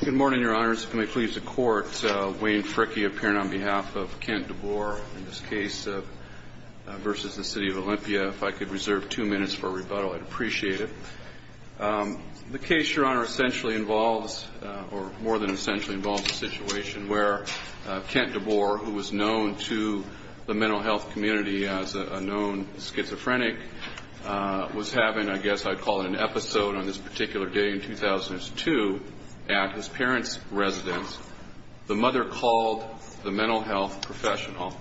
Good morning, Your Honors. If it may please the Court, Wayne Fricke, appearing on behalf of Kent Deboer in this case versus the City of Olympia. If I could reserve two minutes for rebuttal, I'd appreciate it. The case, Your Honor, essentially involves, or more than essentially involves, a situation where Kent Deboer, who was known to the mental health community as a known schizophrenic, was having, I guess I'd call it an episode, on this particular day in 2002 at his parents' residence. The mother called the mental health professional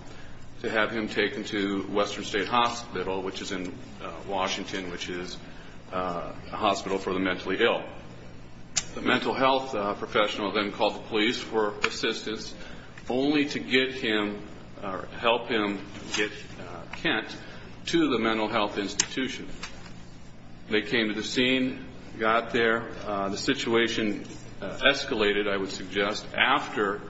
to have him taken to Western State Hospital, which is in Washington, which is a hospital for the mentally ill. The mental health professional then called the police for assistance, only to get him, or help him get Kent to the mental health institution. They came to the scene, got there. The situation escalated, I would suggest, after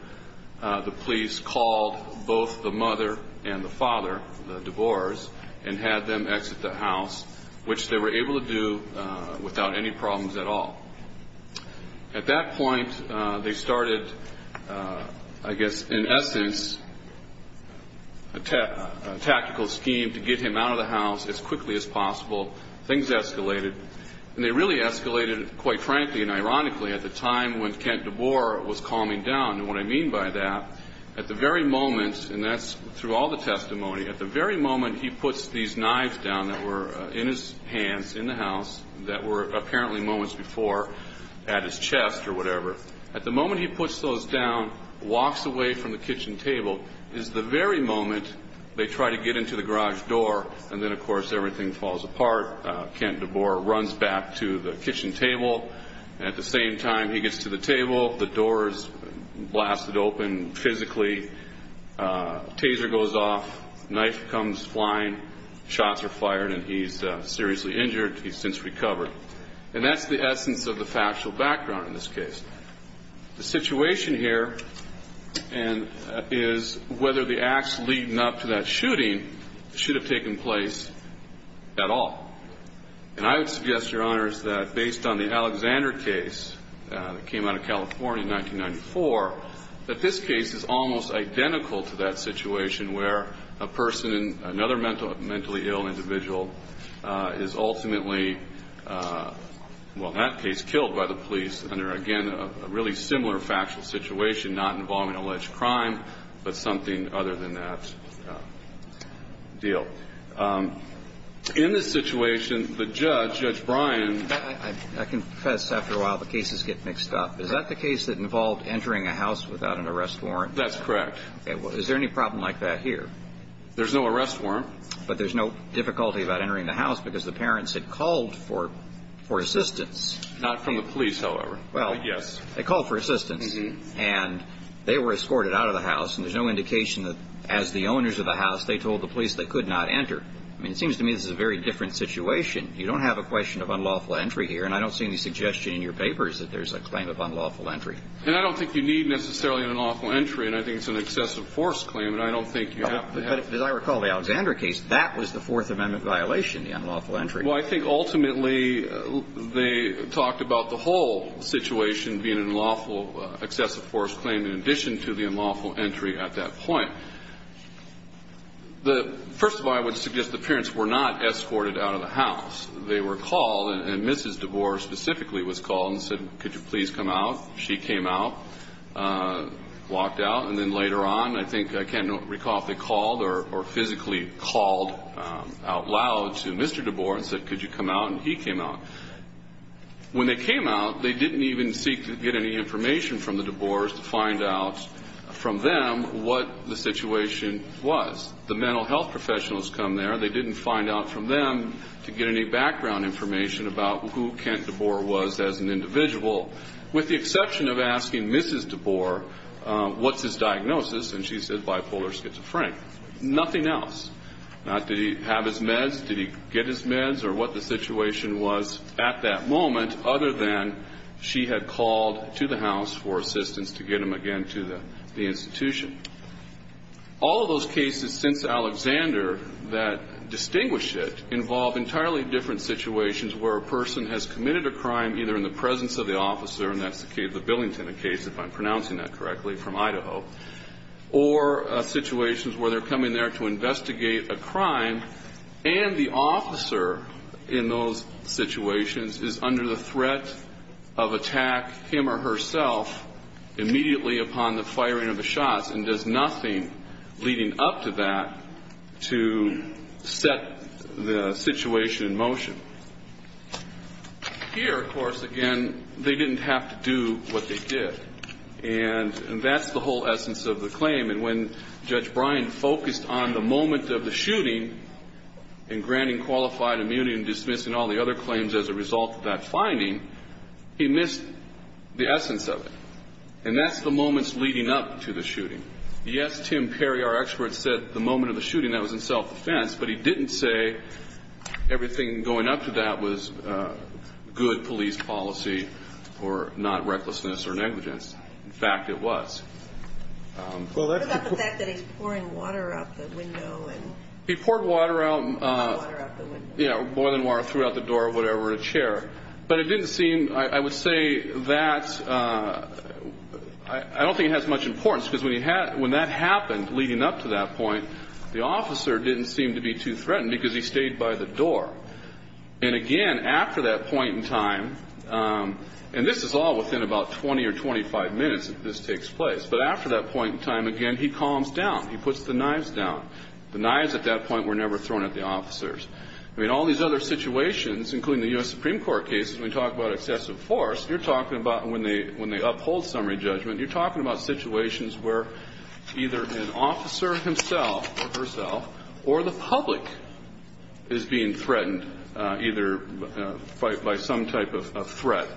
the police called both the mother and the father, the Deboers, and had them exit the house, which they were able to do without any problems at all. At that point, they started, I guess in essence, a tactical scheme to get him out of the house as quickly as possible. Things escalated. And they really escalated, quite frankly and ironically, at the time when Kent Deboer was calming down. And what I mean by that, at the very moment, and that's through all the were apparently moments before, at his chest or whatever. At the moment he puts those down, walks away from the kitchen table, is the very moment they try to get into the garage door. And then of course everything falls apart. Kent Deboer runs back to the kitchen table. At the same time he gets to the table, the door is blasted open physically. Taser goes off, knife comes flying, shots are fired, and he's seriously injured. He's since recovered. And that's the essence of the factual background in this case. The situation here is whether the acts leading up to that shooting should have taken place at all. And I would suggest, Your Honors, that based on the Alexander case that came out of California in 1994, that this case is almost identical to that situation where a person, another mentally ill individual, is ultimately, well, that case killed by the police under, again, a really similar factual situation, not involving an alleged crime, but something other than that deal. In this situation, the judge, Judge Bryan ---- that involved entering a house without an arrest warrant? That's correct. Okay. Well, is there any problem like that here? There's no arrest warrant. But there's no difficulty about entering the house because the parents had called for assistance. Not from the police, however. Well, they called for assistance. And they were escorted out of the house. And there's no indication that as the owners of the house, they told the police they could not enter. I mean, it seems to me this is a very different situation. You don't have a question of unlawful entry here. And I don't see any suggestion in your papers that there's a claim of unlawful entry. And I don't think you need, necessarily, an unlawful entry. And I think it's an excessive force claim. And I don't think you have to have to have an unlawful entry. But as I recall, the Alexander case, that was the Fourth Amendment violation, the unlawful entry. Well, I think ultimately, they talked about the whole situation being an unlawful excessive force claim in addition to the unlawful entry at that point. The ---- first of all, I would suggest the parents were not escorted out of the house. They were called, and Mrs. DeBoer specifically was called and said, could you please come out? She came out, walked out. And then later on, I think, I can't recall if they called or physically called out loud to Mr. DeBoer and said, could you come out? And he came out. When they came out, they didn't even seek to get any information from the DeBoers to find out from them what the situation was. The mental health professionals come there. They didn't find out from them to get any information. With the exception of asking Mrs. DeBoer what's his diagnosis, and she said bipolar schizophrenic. Nothing else, not did he have his meds, did he get his meds or what the situation was at that moment, other than she had called to the house for assistance to get him again to the institution. All of those cases since Alexander that distinguish it involve entirely different situations where a person has committed a crime either in the presence of the officer and that's the case of the Billington case, if I'm pronouncing that correctly, from Idaho, or situations where they're coming there to investigate a crime and the officer in those situations is under the threat of attack, him or herself, immediately upon the firing of the shots and does nothing leading up to that to set the situation in motion. Here, of course, again, they didn't have to do what they did. And that's the whole essence of the claim. And when Judge Bryan focused on the moment of the shooting and granting qualified immunity and dismissing all the other claims as a result of that finding, he missed the essence of it. And that's the moments leading up to the shooting. Yes, Tim Perry, our expert, said the moment of the shooting, that was in self-defense, but he didn't say everything going up to that was good police policy or not recklessness or negligence. In fact, it was. What about the fact that he's pouring water out the window? He poured water out, boiling water throughout the door or whatever, in a chair. But it didn't seem, I would say that, I don't think it has much importance because when that happened, leading up to that point, the officer didn't seem to be too threatened because he stayed by the door. And again, after that point in time, and this is all within about 20 or 25 minutes that this takes place, but after that point in time, again, he calms down. He puts the knives down. The knives at that point were never thrown at the officers. I mean, all these other situations, including the U.S. Supreme Court cases, when we talk about excessive force, you're talking about when they uphold summary judgment, you're either an officer himself or herself, or the public is being threatened either by some type of threat.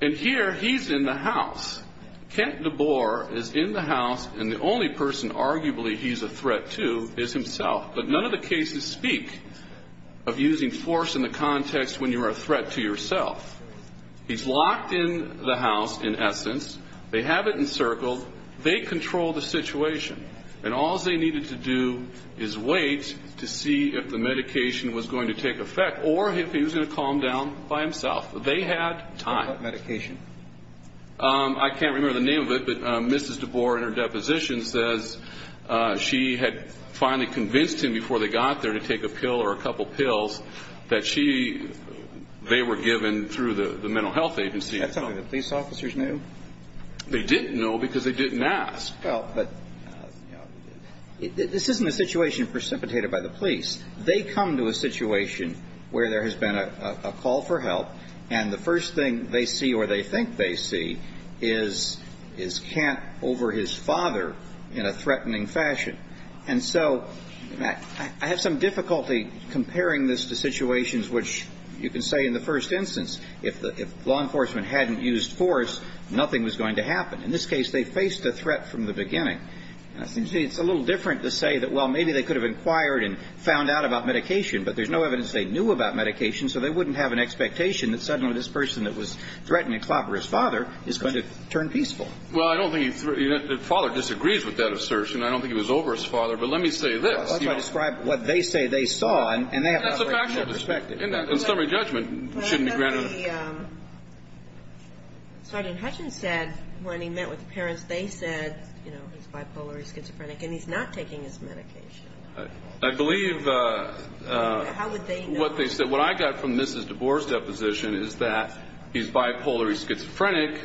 And here, he's in the house. Kent DeBoer is in the house, and the only person, arguably, he's a threat to is himself. But none of the cases speak of using force in the context when you are a threat to yourself. He's locked in the house, in essence. They have it encircled. They control the situation. And all they needed to do is wait to see if the medication was going to take effect or if he was going to calm down by himself. They had time. What medication? I can't remember the name of it, but Mrs. DeBoer, in her deposition, says she had finally convinced him before they got there to take a pill or a couple pills that she, they were given through the mental health agency. That's something the police officers knew? They didn't know because they didn't ask. Well, but this isn't a situation precipitated by the police. They come to a situation where there has been a call for help, and the first thing they see or they think they see is Kent over his father in a threatening fashion. And so I have some difficulty comparing this to situations which you can say in the first instance, if law enforcement hadn't used force, nothing was going to happen. In this case, they faced a threat from the beginning. It seems to me it's a little different to say that, well, maybe they could have inquired and found out about medication, but there's no evidence they knew about medication, so they wouldn't have an expectation that suddenly this person that was threatening Klopper, his father, is going to turn peaceful. Well, I don't think father disagrees with that assertion. I don't think it was over his father. But let me say this. Well, I'll try to describe what they say they saw, and they have an operational perspective. In summary judgment, it shouldn't be granted. Sergeant Hutchins said when he met with the parents, they said, you know, he's bipolar, he's schizophrenic, and he's not taking his medication. I believe what they said, what I got from Mrs. DeBoer's deposition is that he's bipolar, he's schizophrenic,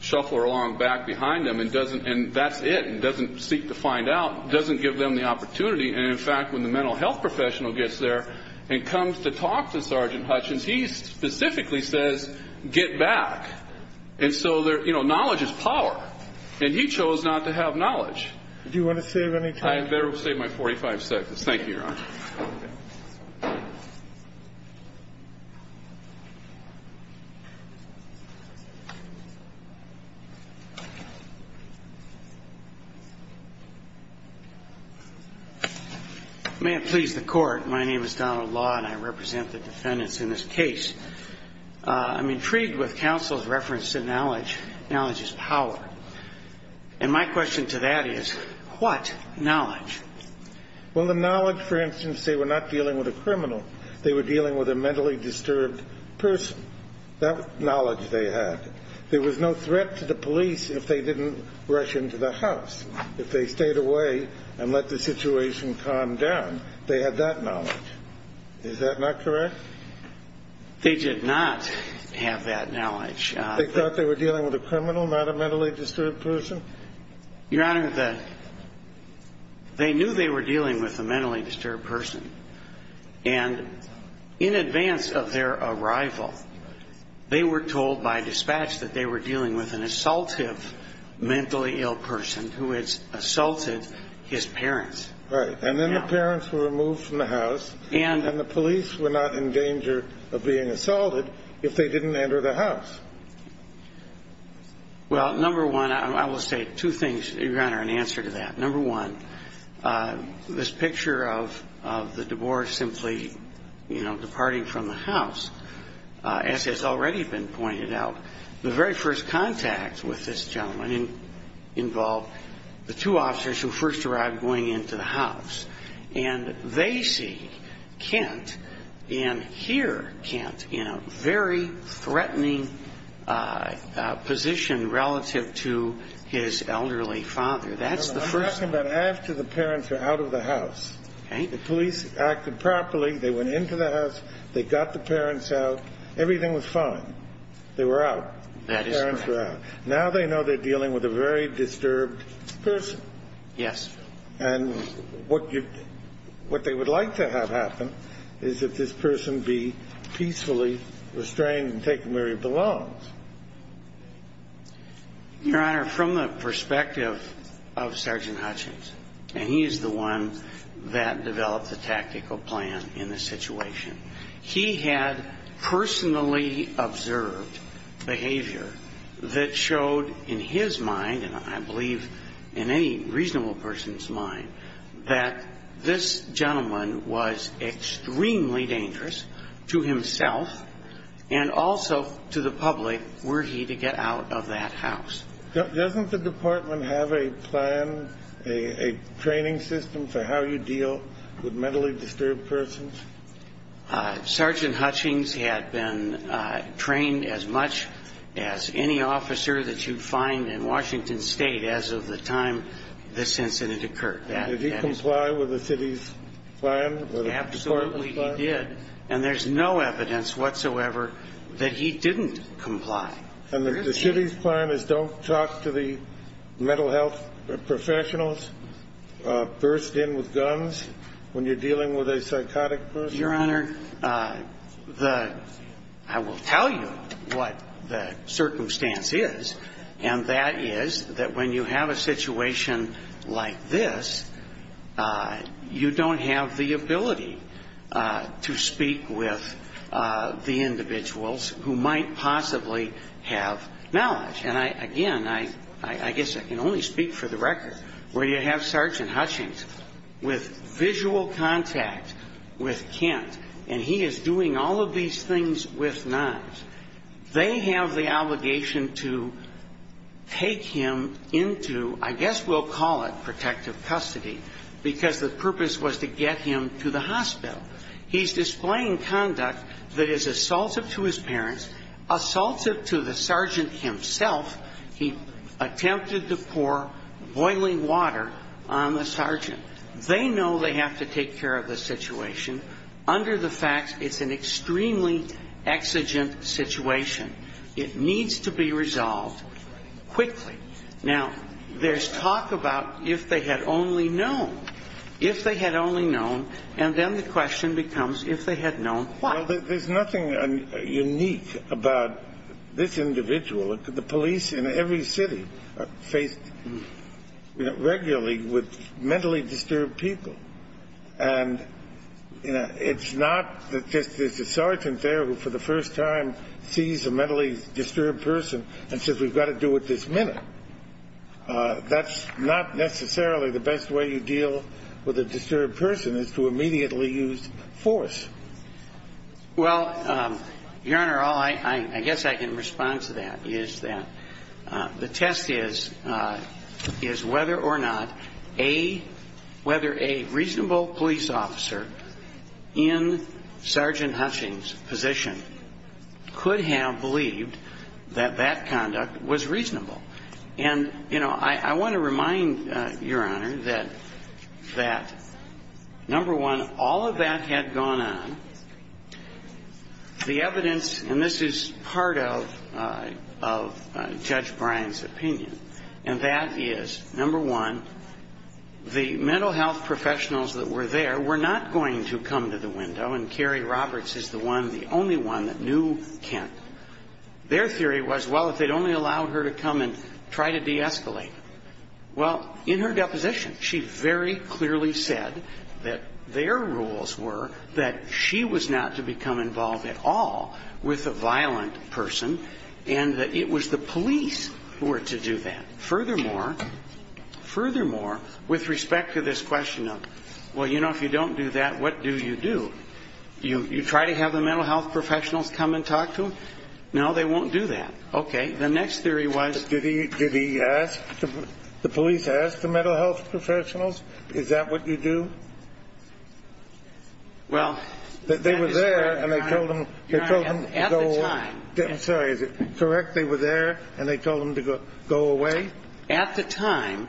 shuffler along back behind him, and that's it, and doesn't seek to find out, doesn't give them the opportunity, and in fact, when the mental health professional gets there and comes to talk to Sergeant Hutchins, he specifically says, get back. And so, you know, knowledge is power. And he chose not to have knowledge. Do you want to save any time? May it please the court. My name is Donald Law, and I represent the defendants in this case. I'm intrigued with counsel's reference to knowledge. Knowledge is power. And my question to that is, what knowledge? Well, the knowledge, for instance, they were not dealing with a criminal. They were dealing with a mentally disturbed person. That was knowledge they had. There was no threat to the police if they didn't rush into the house. If they stayed away and let the situation calm down, they had that knowledge. Is that not correct? They did not have that knowledge. They thought they were dealing with a criminal, not a mentally disturbed person? Your Honor, they knew they were dealing with a mentally disturbed person, and in advance of their arrival, they were told by dispatch that they were dealing with an assaultive mentally ill person who had assaulted his parents. Right. And then the parents were removed from the house, and the police were not in danger of being assaulted if they didn't enter the house. Well, number one, I will say two things, Your Honor, in answer to that. Number one, this house, as has already been pointed out, the very first contact with this gentleman involved the two officers who first arrived going into the house. And they see Kent and hear Kent in a very threatening position relative to his elderly father. That's the first one. Your Honor, I'm talking about after the parents are out of the house. Okay. The police acted properly. They went into the house. They got the parents out. Everything was fine. They were out. That is correct. The parents were out. Now they know they're dealing with a very disturbed person. Yes. And what they would like to have happen is that this person be peacefully restrained and taken where he belongs. Your Honor, from the perspective of Sergeant Hutchins, and he is the one that developed the tactical plan in this situation, he had personally observed behavior that showed in his mind, and I believe in any reasonable person's mind, that this gentleman was extremely dangerous to himself and also to the public were he to get out of that house. Doesn't the department have a plan, a training system for how you deal with mentally disturbed persons? Sergeant Hutchins had been trained as much as any officer that you'd find in Washington State as of the time this incident occurred. Did he comply with the city's plan? Absolutely he did, and there's no evidence whatsoever that he didn't comply. And the city's plan is don't talk to the mental health professionals, burst in with guns when you're dealing with a psychotic person? Your Honor, I will tell you what the circumstance is, and that is that when you have a situation like this, you don't have the ability to speak with the individuals who might possibly have knowledge. And again, I guess I can only speak for the record, where you have Sergeant Hutchins with visual contact with Kent, and he is doing all of these things with knives, they have the obligation to take him into, I guess we'll call it protective custody, because the purpose was to get him to the hospital. He's displaying conduct that is assaultive to his parents, assaultive to the sergeant himself. He attempted to pour boiling water on the sergeant. They know they have to take care of the situation under the fact it's an extremely exigent situation. It needs to be resolved quickly. Now, there's talk about if they had only known. If they had only known, and then the question becomes if they had known why. Well, there's nothing unique about this individual. The police in every city are faced regularly with mentally disturbed people. And it's not that there's a sergeant there who for the first time sees a mentally disturbed person and says we've got to do it this minute. That's not necessarily the best way you deal with a disturbed person is to immediately use force. Well, Your Honor, all I guess I can respond to that is that the test is whether or not a, whether a reasonable police officer in Sergeant Hushing's position could have believed that that conduct was reasonable. And, you know, I want to remind Your Honor that, number one, all of that had gone on. The evidence, and this is part of Judge Bryan's opinion, and that is, number one, the mental health professionals that were there were not going to come to the window, and Carrie Roberts is the one, the only one that knew Kent. Their theory was, well, if they'd only allowed her to come and try to deescalate. Well, in her deposition she very clearly said that their rules were that she was not to become involved at all with a violent person and that it was the police who were to do that. Furthermore, furthermore, with respect to this question of, well, you know, if you don't do that, what do you do? You try to have the mental health professionals come and talk to them? No, they won't do that. Okay. The next theory was... Did he ask, the police asked the mental health professionals, is that what you do? Well... That they were there and they told them... Your Honor, at the time... I'm sorry. Is it correct they were there and they told them to go away? At the time,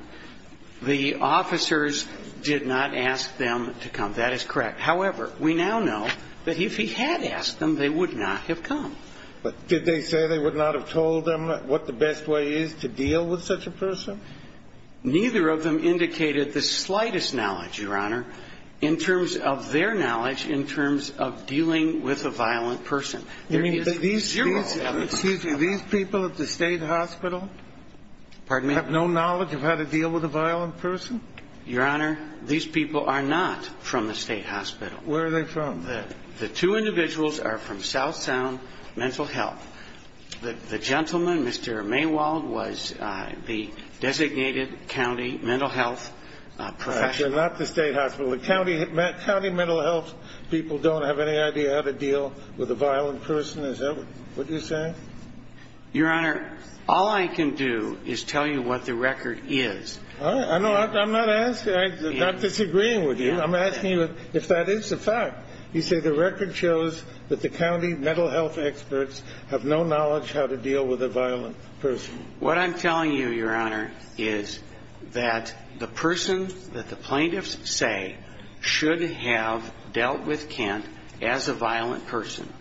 the officers did not ask them to come. That is correct. However, we now know that if he had asked them, they would not have come. But did they say they would not have told them what the best way is to deal with such a person? Neither of them indicated the slightest knowledge, Your Honor, in terms of their knowledge in terms of dealing with a violent person. These people at the state hospital... Pardon me? ...have no knowledge of how to deal with a violent person? Your Honor, these people are not from the state hospital. Where are they from? The two individuals are from South Sound Mental Health. The gentleman, Mr. Maywald, was the designated county mental health professional. Actually, not the state hospital. The county mental health people don't have any idea how to deal with a violent person? Is that what you're saying? Your Honor, all I can do is tell you what the record is. I'm not disagreeing with you. I'm asking you if that is the fact. You say the record shows that the county mental health experts have no knowledge how to deal with a violent person. What I'm telling you, Your Honor, is that the person that the plaintiffs say should have dealt with Kent as a violent person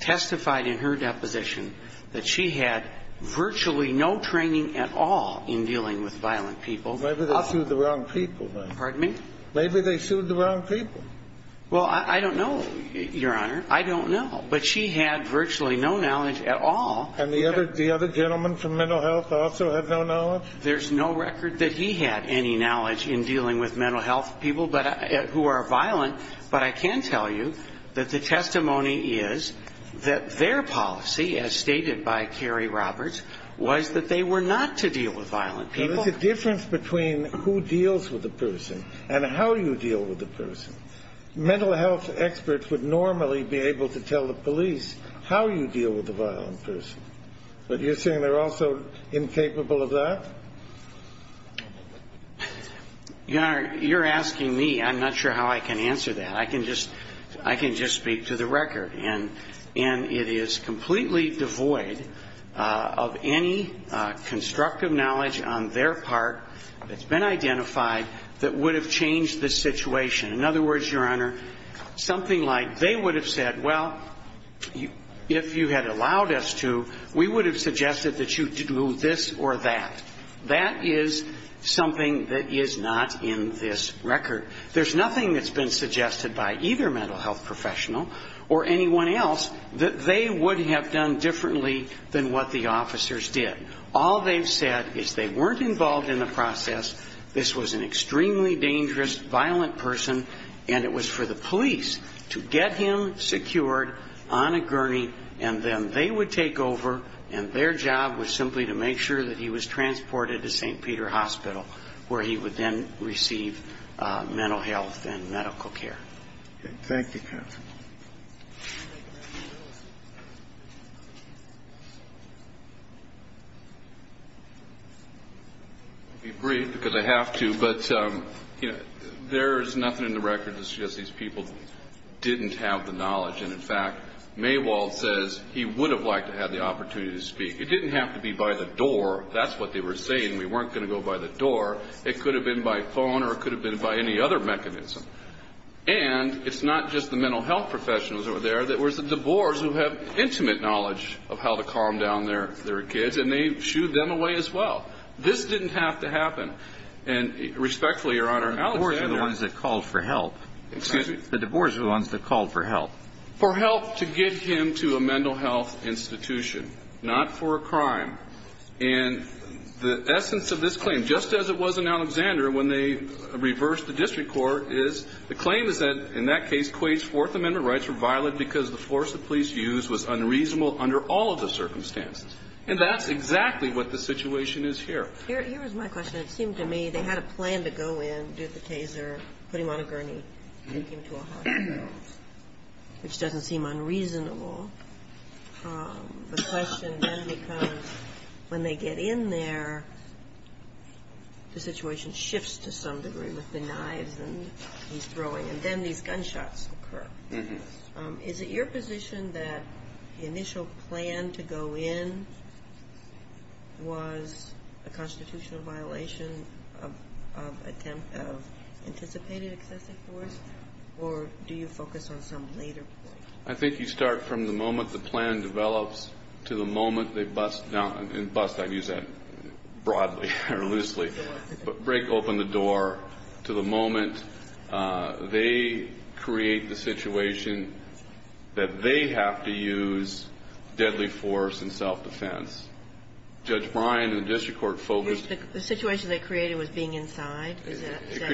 testified in her deposition that she had virtually no training at all in dealing with violent people. Maybe they sued the wrong people. Pardon me? Maybe they sued the wrong people. Well, I don't know, Your Honor. I don't know. But she had virtually no knowledge at all. And the other gentleman from mental health also had no knowledge? There's no record that he had any knowledge in dealing with mental health people who are violent. But I can tell you that the testimony is that their policy, as stated by Kerry Roberts, was that they were not to deal with violent people. There's a difference between who deals with a person and how you deal with a person. Mental health experts would normally be able to tell the police how you deal with a violent person. But you're saying they're also incapable of that? Your Honor, you're asking me. I'm not sure how I can answer that. I can just speak to the record. And it is completely devoid of any constructive knowledge on their part that's been identified that would have changed the situation. In other words, Your Honor, something like they would have said, well, if you had allowed us to, we would have suggested that you do this or that. That is something that is not in this record. There's nothing that's been suggested by either mental health professional or anyone else that they would have done differently than what the officers did. All they've said is they weren't involved in the process. This was an extremely dangerous, violent person, and it was for the police to get him secured on a gurney, and then they would take over, and their job was simply to make sure that he was transported to St. Peter Hospital, where he would then receive mental health and medical care. Thank you, counsel. I'll be brief because I have to, but there is nothing in the record that suggests these people didn't have the knowledge. And, in fact, Maywald says he would have liked to have had the opportunity to speak. It didn't have to be by the door. That's what they were saying. We weren't going to go by the door. It could have been by phone or it could have been by any other mechanism. And it's not just the mental health professionals over there. It was the DeBoers who have intimate knowledge of how to calm down their kids, and they shooed them away as well. This didn't have to happen. And respectfully, Your Honor, Alexander— The DeBoers are the ones that called for help. Excuse me? The DeBoers are the ones that called for help. For help to get him to a mental health institution, not for a crime. And the essence of this claim, just as it was in Alexander when they reversed the district court, is the claim is that, in that case, Quaid's Fourth Amendment rights were violated because the force the police used was unreasonable under all of the circumstances. And that's exactly what the situation is here. Here is my question. It seemed to me they had a plan to go in, do the taser, put him on a gurney, take him to a hospital, which doesn't seem unreasonable. The question then becomes, when they get in there, the situation shifts to some degree with the knives and he's throwing, and then these gunshots occur. Is it your position that the initial plan to go in was a constitutional violation of anticipated excessive force, or do you focus on some later point? I think you start from the moment the plan develops to the moment they bust down and bust, I use that broadly or loosely, break open the door, to the moment they create the situation that they have to use deadly force and self-defense. Judge Bryan, the district court focused The situation they created was being inside? By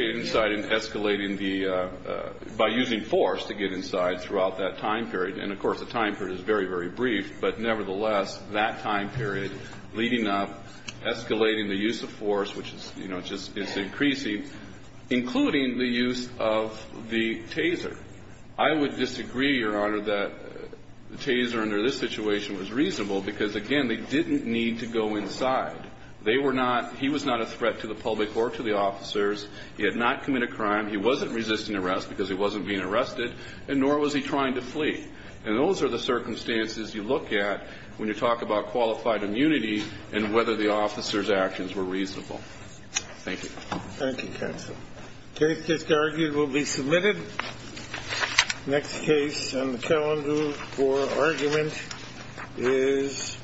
using force to get inside throughout that time period. And, of course, the time period is very, very brief. But, nevertheless, that time period leading up, escalating the use of force, which is increasing, including the use of the taser. I would disagree, Your Honor, that the taser under this situation was reasonable because, again, they didn't need to go inside. He was not a threat to the public or to the officers. He had not committed a crime. He wasn't resisting arrest because he wasn't being arrested, and nor was he trying to flee. And those are the circumstances you look at when you talk about qualified immunity and whether the officer's actions were reasonable. Thank you. Thank you, counsel. The case just argued will be submitted. Next case on the calendar for argument is